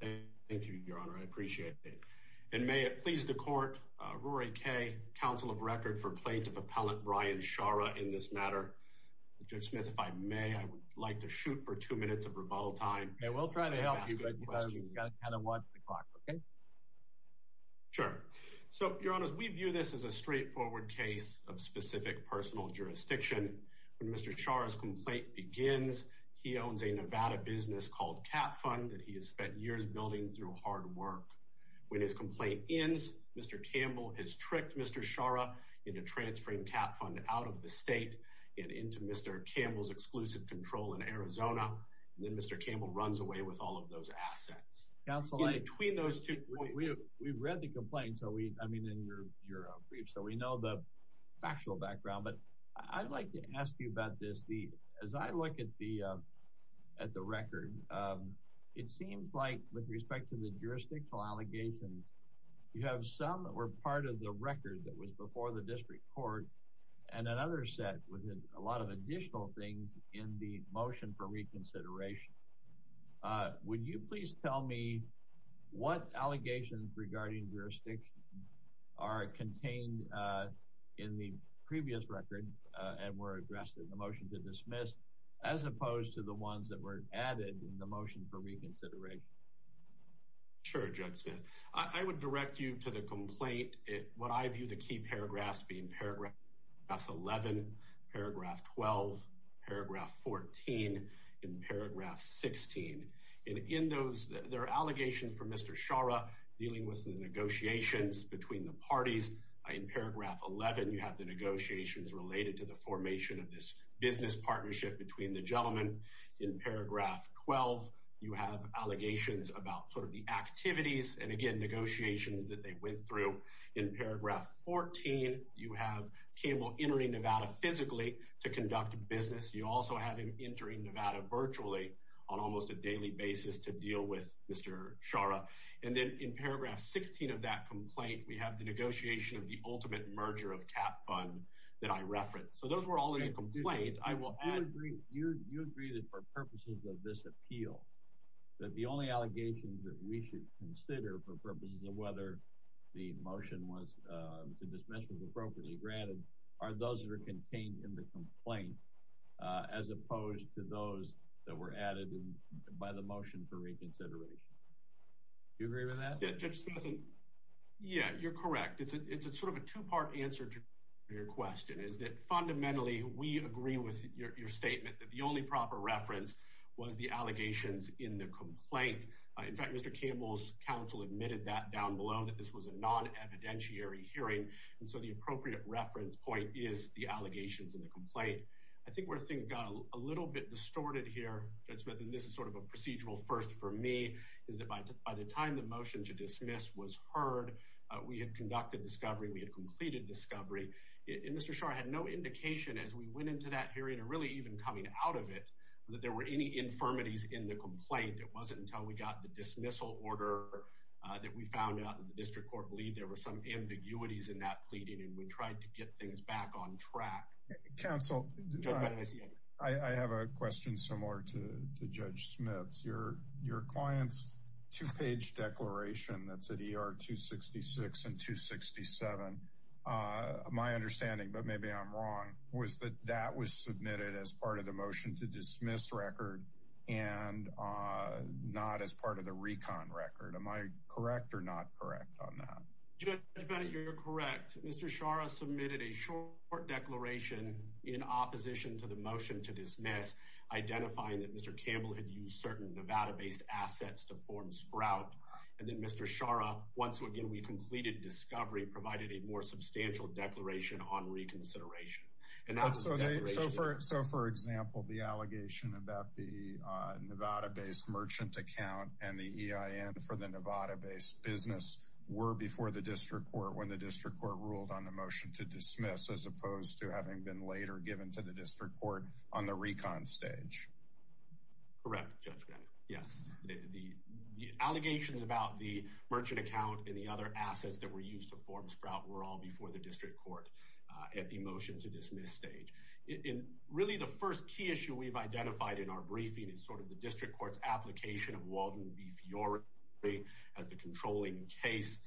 Thank you, Your Honor. I appreciate it. And may it please the Court, Rory Kaye, Counsel of Record for Plaintiff Appellant Brian Sciara in this matter. Judge Smith, if I may, I would like to shoot for two minutes of rebuttal time. Yeah, we'll try to help you, but you've got to kind of watch the clock, okay? Sure. So, Your Honors, we view this as a straightforward case of specific personal jurisdiction. When Mr. Sciara's complaint begins, he owns a Nevada business called CapFund that he spent years building through hard work. When his complaint ends, Mr. Campbell has tricked Mr. Sciara into transferring CapFund out of the state and into Mr. Campbell's exclusive control in Arizona, and then Mr. Campbell runs away with all of those assets. Counsel, I— In between those two points— We've read the complaint, I mean, in your brief, so we know the factual background, but I'd like to ask you about this. As I look at the record, it seems like, with respect to the jurisdictal allegations, you have some that were part of the record that was before the district court, and another set with a lot of additional things in the motion for reconsideration. Would you please tell me what allegations regarding jurisdiction are contained in the previous record and were addressed in the motion to dismiss, as opposed to the ones that were added in the motion for reconsideration? Sure, Judge Smith. I would direct you to the complaint. What I view the key paragraphs being paragraph 11, paragraph 12, paragraph 14, and paragraph 16. In those, there are allegations for Mr. Sciara dealing with the negotiations between the parties. In paragraph 11, you have negotiations related to the formation of this business partnership between the gentlemen. In paragraph 12, you have allegations about sort of the activities and, again, negotiations that they went through. In paragraph 14, you have Campbell entering Nevada physically to conduct business. You also have him entering Nevada virtually on almost a daily basis to deal with Mr. Sciara. And then in paragraph 16 of that complaint, we have the negotiation of the ultimate merger of cap fund that I referenced. So those were all in the complaint. I will add— You agree that for purposes of this appeal, that the only allegations that we should consider for purposes of whether the motion was to dismiss was appropriately granted are those that are contained in the complaint, as opposed to those that were added by the motion for reconsideration. Do you agree with that? Judge Smith, yeah, you're correct. It's sort of a two-part answer to your question, is that fundamentally, we agree with your statement that the only proper reference was the allegations in the complaint. In fact, Mr. Campbell's counsel admitted that down below, that this was a non-evidentiary hearing. And so the appropriate reference point is the allegations in the complaint. I think where things got a little bit distorted here, Judge Smith—and this is sort of a procedural first for me—is that by the time the motion to dismiss was heard, we had conducted discovery, we had completed discovery, and Mr. Scharr had no indication as we went into that hearing, and really even coming out of it, that there were any infirmities in the complaint. It wasn't until we got the dismissal order that we found out that the district court believed there were some ambiguities in that pleading, and we tried to get things back on track. Counsel, I have a question similar to that's at ER 266 and 267. My understanding, but maybe I'm wrong, was that that was submitted as part of the motion to dismiss record and not as part of the recon record. Am I correct or not correct on that? Judge Bennett, you're correct. Mr. Scharr submitted a short declaration in opposition to the motion to dismiss, identifying that Mr. Campbell had used certain Nevada-based assets to form Sprout, and then Mr. Scharr, once again, we completed discovery, provided a more substantial declaration on reconsideration. So, for example, the allegation about the Nevada-based merchant account and the EIN for the Nevada-based business were before the district court when the district court ruled on the motion to dismiss, as opposed to having been later given to the district court on the recon stage. Correct, Judge Bennett. Yes, the allegations about the merchant account and the other assets that were used to form Sprout were all before the district court at the motion to dismiss stage. And really, the first key issue we've identified in our briefing is sort of the district court's application of Waldron B. Fiore as the controlling case.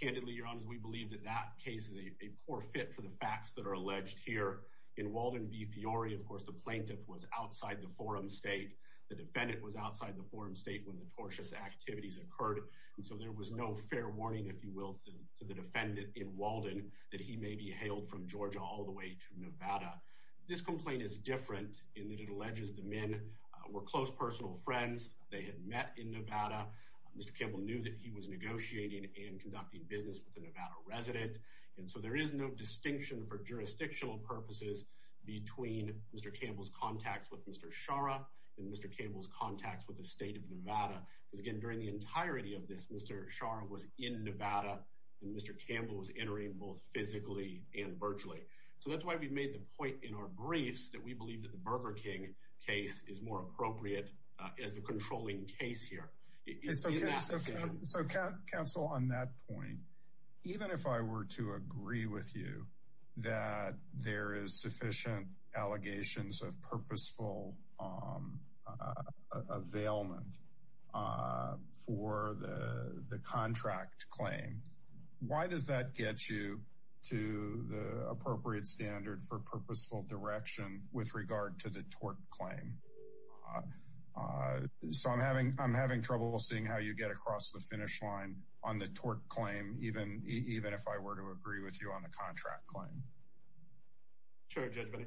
Candidly, your honors, we believe that that case is a poor fit for the facts that are alleged here in Waldron B. Fiore. Of course, the plaintiff was outside the forum state. The defendant was outside the forum state when the tortious activities occurred, and so there was no fair warning, if you will, to the defendant in Waldron that he may be hailed from Georgia all the way to Nevada. This complaint is different in that it alleges the men were close personal friends. They had met in Nevada. Mr. Campbell knew that he was negotiating and conducting business with a Nevada resident, and so there is no distinction for jurisdictional purposes between Mr. Campbell's contacts with Mr. Schara and Mr. Campbell's contacts with the state of Nevada. Because again, during the entirety of this, Mr. Schara was in Nevada, and Mr. Campbell was entering both physically and virtually. So that's why we made the point in our briefs that we believe that the Burger King case is more with you that there is sufficient allegations of purposeful availment for the contract claim. Why does that get you to the appropriate standard for purposeful direction with regard to the tort claim? So I'm having trouble seeing how you get across the finish line on the tort claim, even if I were to agree with you on the contract claim. Sure, Judge, but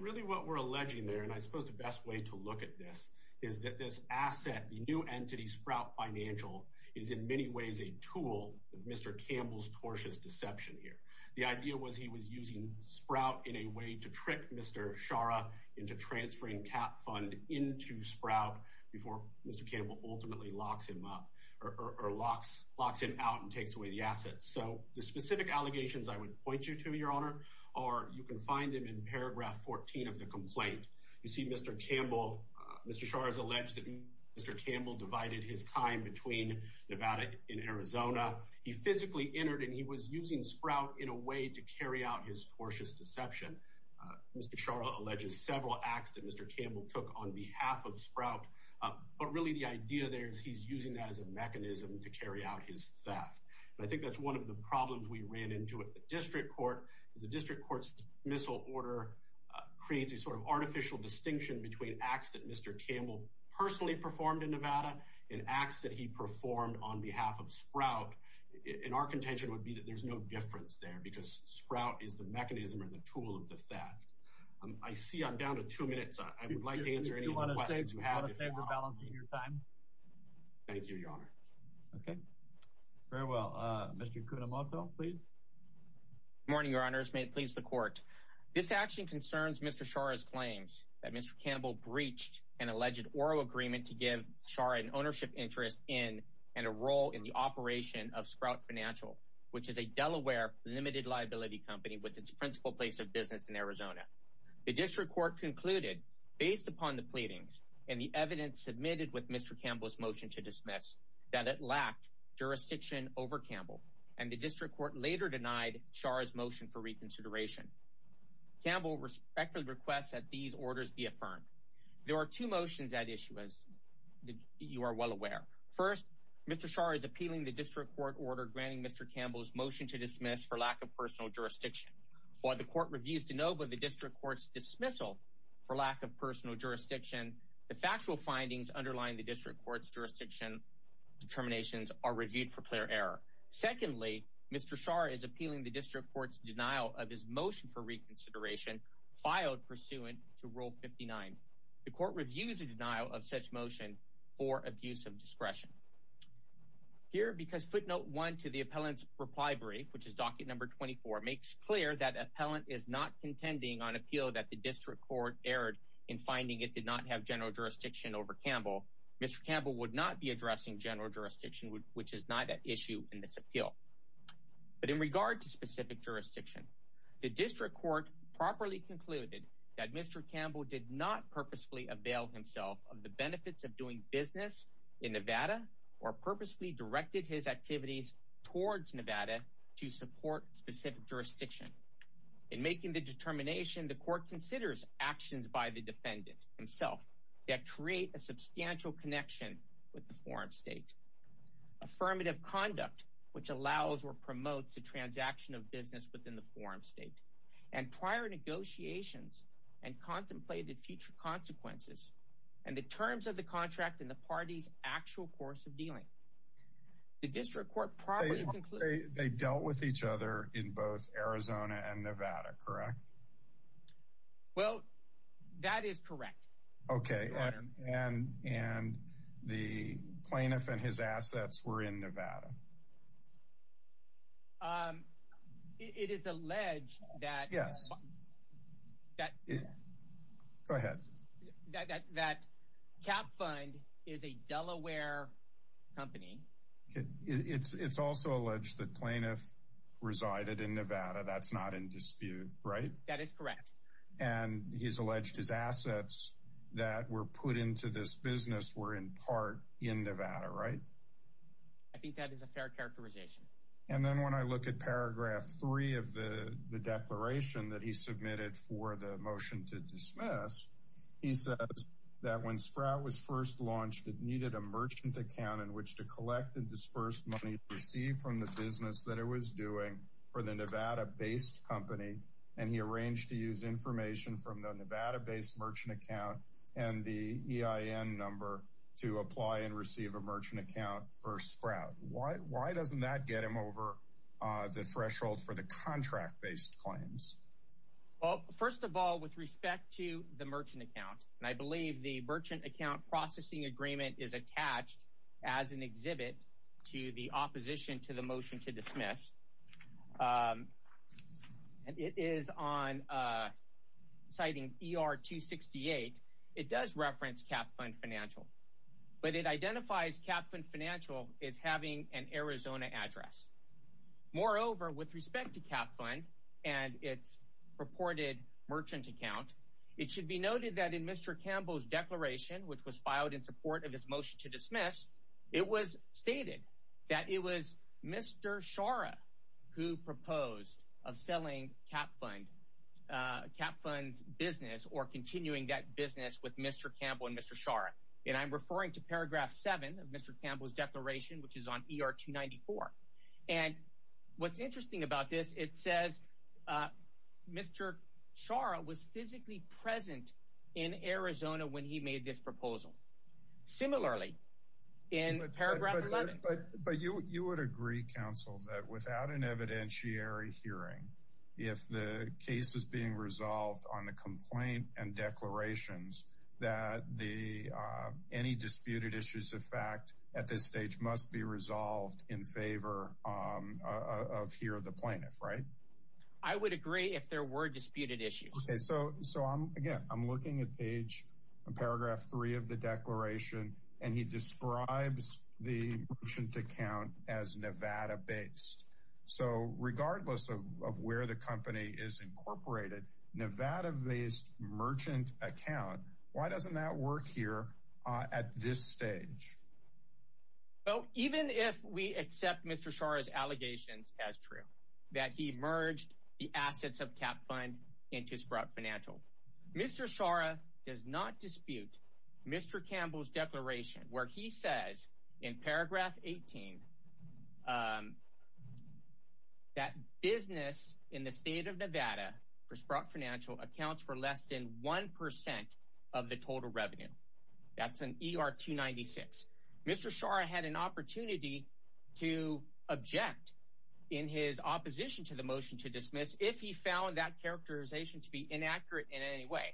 really what we're alleging there, and I suppose the best way to look at this, is that this asset, the new entity Sprout Financial, is in many ways a tool of Mr. Campbell's tortious deception here. The idea was he was using Sprout in a way to trick Mr. Schara into transferring cap fund into Sprout before Mr. Campbell ultimately locks him up or locks him out and takes away the assets. So the specific allegations I would point you to, Your Honor, are you can find them in paragraph 14 of the complaint. You see Mr. Campbell, Mr. Schara's alleged that Mr. Campbell divided his time between Nevada and Arizona. He physically entered and he was using Sprout in a way to carry out his tortious deception. Mr. Schara alleges several acts that Mr. Campbell took on behalf of Sprout, but really the idea there is he's using that as a mechanism to carry out his theft. I think that's one of the problems we ran into at the district court, is the district court's dismissal order creates a sort of artificial distinction between acts that Mr. Campbell personally performed in Nevada and acts that he performed on behalf of Sprout. There's no difference there because Sprout is the mechanism or the tool of the theft. I see I'm down to two minutes. I would like to answer any questions you have. Thank you, Your Honor. Okay. Farewell. Mr. Cunemoto, please. Good morning, Your Honors. May it please the court. This action concerns Mr. Schara's claims that Mr. Campbell breached an alleged Oro agreement to give Schara an ownership interest in and a role in the operation of Sprout Financial, which is a Delaware limited liability company with its principal place of business in Arizona. The district court concluded, based upon the pleadings and the evidence submitted with Mr. Campbell's motion to dismiss, that it lacked jurisdiction over Campbell, and the district court later denied Schara's motion for reconsideration. Campbell respectfully requests that these orders be affirmed. There are two motions at issue, as you are well aware. First, Mr. Schara is appealing the district court order granting Mr. Campbell's motion to dismiss for lack of personal jurisdiction. While the court reviews de novo the district court's dismissal for lack of personal jurisdiction, the factual findings underlying the district court's jurisdiction determinations are reviewed for clear error. Secondly, Mr. Schara is appealing the district court's denial of his motion for reconsideration filed pursuant to rule 59. The court reviews a denial of such motion for abuse of discretion. Here, because footnote one to the appellant's reply brief, which is docket number 24, makes clear that appellant is not contending on appeal that the district court erred in finding it did not have general jurisdiction over Campbell, Mr. Campbell would not be addressing general jurisdiction, which is not at issue in this appeal. But in regard to specific jurisdiction, the district court properly concluded that Mr. Campbell did not purposefully avail himself of the benefits of doing business in Nevada or purposefully directed his activities towards Nevada to support specific jurisdiction. In making the determination, the court considers actions by the defendant himself that create a substantial connection with the foreign state. Affirmative conduct, which allows or promotes the transaction of business within the foreign state and prior negotiations and contemplated future consequences and the terms of the contract in the party's actual course of dealing. The district court probably they dealt with each other in both Arizona and Nevada, correct? Well, that is correct. Okay. And and the plaintiff and his assets were in Nevada. It is alleged that yes. That go ahead that that that cap fund is a Delaware company. It's it's also alleged that plaintiff resided in Nevada. That's not in dispute, right? That is correct. And he's alleged his assets that were put into this business were in part in Nevada, right? I think that is a fair characterization. And then when I look at paragraph three of the the declaration that he submitted for the motion to dismiss, he says that when Sprout was first launched, it needed a merchant account in which to collect and disperse money received from the business that it was doing for the Nevada based company. And he arranged to use information from the Nevada based merchant account and the EIN number to apply and receive a merchant account for Sprout. Why why doesn't that get him over the threshold for the contract based claims? Well, first of all, with respect to the merchant account, and I believe the merchant account processing agreement is attached as an exhibit to the opposition to the motion to dismiss. It is on citing ER 268. It does reference cap fund financial, but it identifies cap fund financial is having an Arizona address. Moreover, with respect to cap fund and its reported merchant account, it should be noted that in Mr. Campbell's declaration, which was who proposed of selling cap fund cap funds business or continuing that business with Mr. Campbell and Mr. Schara. And I'm referring to paragraph seven of Mr. Campbell's declaration, which is on ER 294. And what's interesting about this, it says Mr. Schara was physically present in Arizona when he made this proposal. Similarly, in paragraph 11. But you would agree, counsel, that without an evidentiary hearing, if the case is being resolved on the complaint and declarations that the any disputed issues of fact at this stage must be resolved in favor of here, the plaintiff, right? I would agree if there were disputed issues. So so I'm again, I'm looking at page paragraph three of the declaration, and he describes the merchant account as Nevada based. So regardless of where the company is incorporated, Nevada based merchant account. Why doesn't that work here at this stage? Well, even if we accept Mr. Schara's allegations as true that he merged the assets of cap fund into Sprott Financial, Mr. Schara does not dispute Mr. Campbell's declaration where he says in paragraph 18 that business in the state of Nevada for Sprott Financial accounts for less than 1% of the total revenue. That's an ER 296. Mr. Schara had an opportunity to object in his characterization to be inaccurate in any way.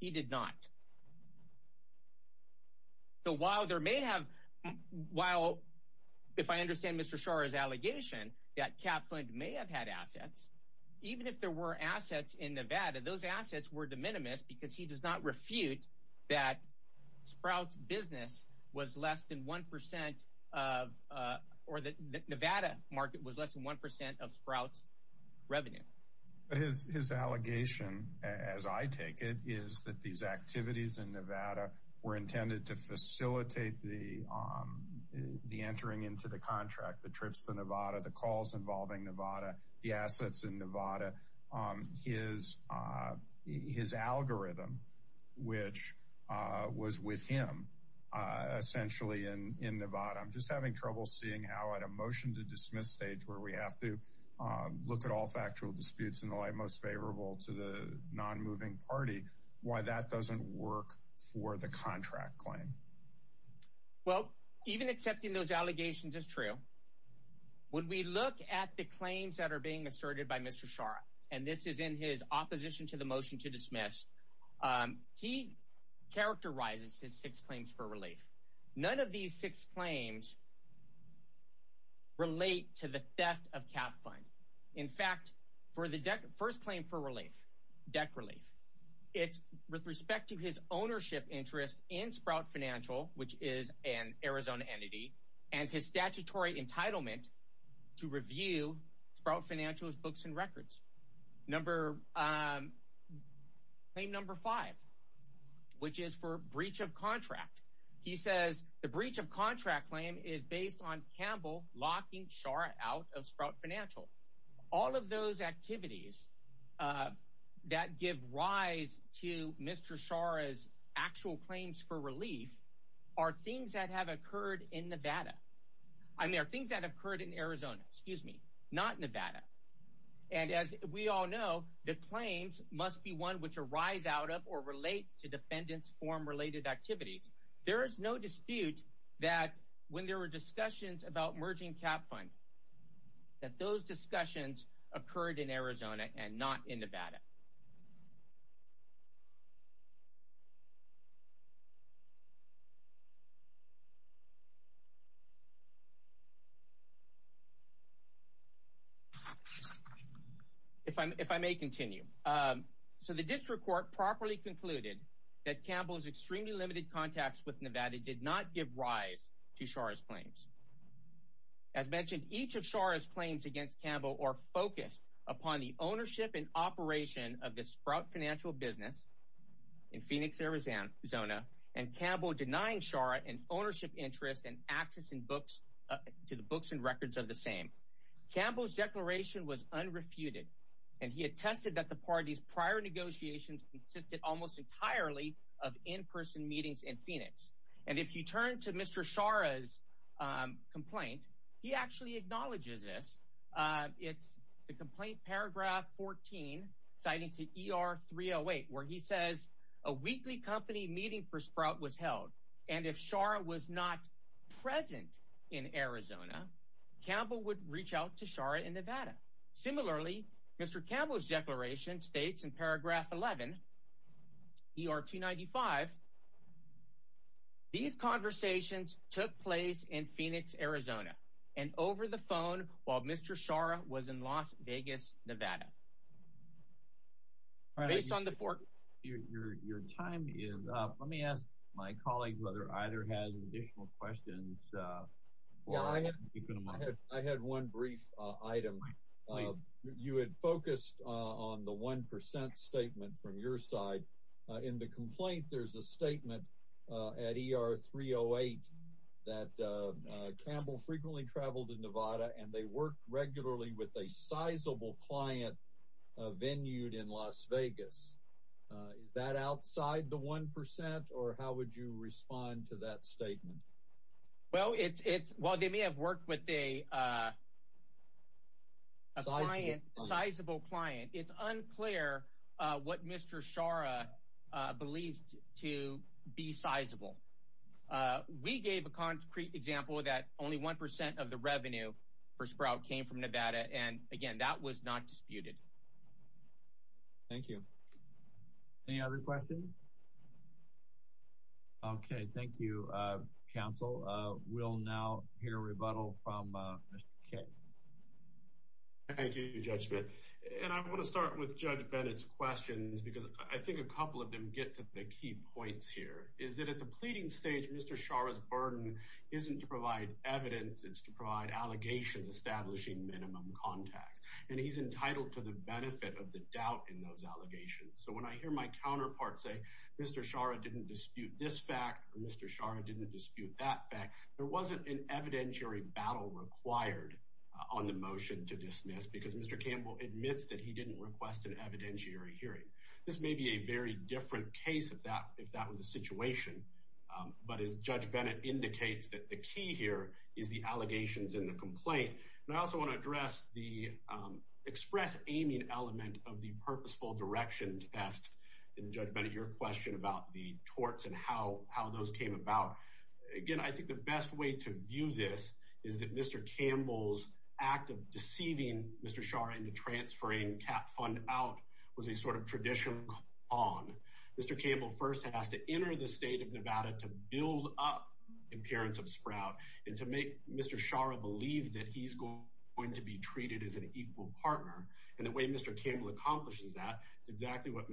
He did not. So while there may have, while if I understand Mr. Schara's allegation that Kaplan may have had assets, even if there were assets in Nevada, those assets were de minimis because he does not refute that Sprout's business was less than 1% of or that Nevada market was less than 1% of Sprout's But his allegation, as I take it, is that these activities in Nevada were intended to facilitate the entering into the contract, the trips to Nevada, the calls involving Nevada, the assets in Nevada, his algorithm, which was with him essentially in Nevada. I'm just having trouble seeing how at a motion to dismiss stage where we have to look at all factual disputes in the light most favorable to the non-moving party, why that doesn't work for the contract claim. Well, even accepting those allegations is true. When we look at the claims that are being asserted by Mr. Schara, and this is in his opposition to the motion to dismiss, he characterizes his six relate to the theft of Kaplan. In fact, for the first claim for relief, debt relief, it's with respect to his ownership interest in Sprout Financial, which is an Arizona entity, and his statutory entitlement to review Sprout Financial's books and records. Number, claim number five, which is for breach of contract. He says the breach of contract claim is based on Campbell locking Schara out of Sprout Financial. All of those activities that give rise to Mr. Schara's actual claims for relief are things that have occurred in Nevada. I mean, are things that occurred in Arizona, excuse me, not Nevada. And as we all know, the claims must be one which arise out of or relates to defendants form related activities. There is no dispute that when there were discussions about merging Kaplan, that those discussions occurred in Arizona and not in Nevada. If I may continue. So the district court properly concluded that Campbell's extremely limited contacts with Nevada did not give rise to Schara's claims. As mentioned, each of Schara's claims against Campbell are focused upon the ownership and operation of the Sprout Financial business in Phoenix, Arizona, and Campbell denying Schara an ownership interest and access to the books and records of the same. Campbell's declaration was unrefuted, and he attested that the party's prior negotiations consisted almost entirely of in-person meetings in Phoenix. And if you turn to Mr. Schara's complaint, he actually acknowledges this. It's the complaint paragraph 14, citing to ER 308, where he says a weekly company meeting for Sprout was held, and if Schara was not present in Arizona, Campbell would reach out to Schara in Nevada. Similarly, Mr. Campbell's declaration states in paragraph 11, ER 295, these conversations took place in Phoenix, Arizona, and over the phone while Mr. Schara was in Las Vegas, Nevada. Based on the four... Your time is up. Let me ask my colleague whether either has additional questions. Yeah, I had one brief item. You had focused on the 1% statement from your side. In the complaint, there's a statement at ER 308 that Campbell frequently traveled to Nevada, and they worked regularly with a sizable client venued in Las Vegas. Is that outside the 1%, or how would you respond to that statement? Well, it's... Well, they may have worked with a client, a sizable client. It's unclear what Mr. Schara believes to be sizable. We gave a concrete example that only 1% of the revenue for Sprout came from Nevada, and again, that was not disputed. Thank you. Any other questions? Okay. Thank you, counsel. We'll now hear a rebuttal from Mr. Kaye. Thank you, Judge Bitt. And I want to start with Judge Bennett's questions because I think a couple of them get to the key points here, is that at the pleading stage, Mr. Schara's burden isn't to provide evidence. It's to provide allegations establishing minimum contacts, and he's entitled to the benefit of the doubt in those allegations. So when I hear my counterpart say, Mr. Schara didn't dispute this fact, or Mr. Schara didn't dispute that fact, there wasn't an evidentiary battle required on the motion to dismiss because Mr. Campbell admits that he didn't request an evidentiary hearing. This may be a very different case if that was the situation, but as Judge Bennett indicates, that the key here is the allegations in the complaint. And I also want to address the express aiming element of the purposeful direction test, and Judge Bennett, your question about the torts and how those came about. Again, I think the best way to view this is that Mr. Campbell's act of deceiving Mr. Schara into transferring cap fund out was a sort of traditional con. Mr. Campbell first has to enter the state of Nevada to build up the appearance of Sprout, and to make Mr. Schara believe that he's going to be treated as an equal partner. And the way Mr. Campbell accomplishes that is exactly what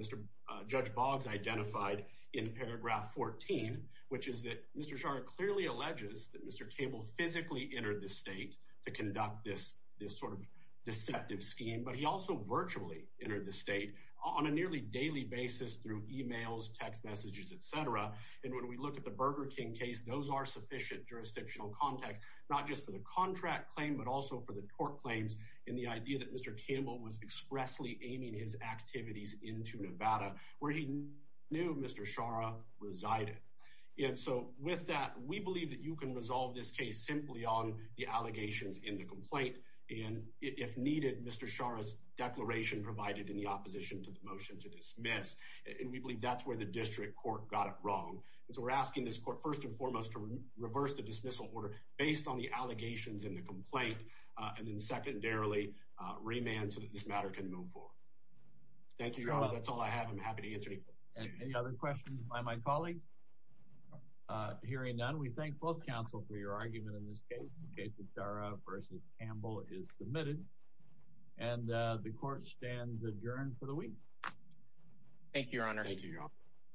Judge Boggs identified in paragraph 14, which is that Mr. Schara clearly alleges that Mr. Campbell physically entered the state to conduct this sort of deceptive scheme, but he also virtually entered the state on a nearly daily basis through emails, text messages, etc. And when we look at the Burger King case, those are sufficient jurisdictional context, not just for the contract claim, but also for the tort claims. And the idea that Mr. Campbell was expressly aiming his activities into Nevada, where he knew Mr. Schara resided. And so with that, we believe that you can resolve this case simply on the allegations in the complaint. And if needed, Mr. Schara's declaration provided in the opposition to the motion to dismiss. And we believe that's where the district court got it wrong. And so we're asking this court first and foremost to reverse the dismissal order based on the allegations in the complaint, and then secondarily, remand so that this matter can move forward. Thank you, Your Honor. That's all I have. I'm happy to answer any questions. Any other questions by my colleague? Hearing none, we thank both counsel for your argument in this case. The case of Schara v. Campbell is submitted. And the court stands adjourned for the week. Thank you, Your Honor. Thank you, Your Honor.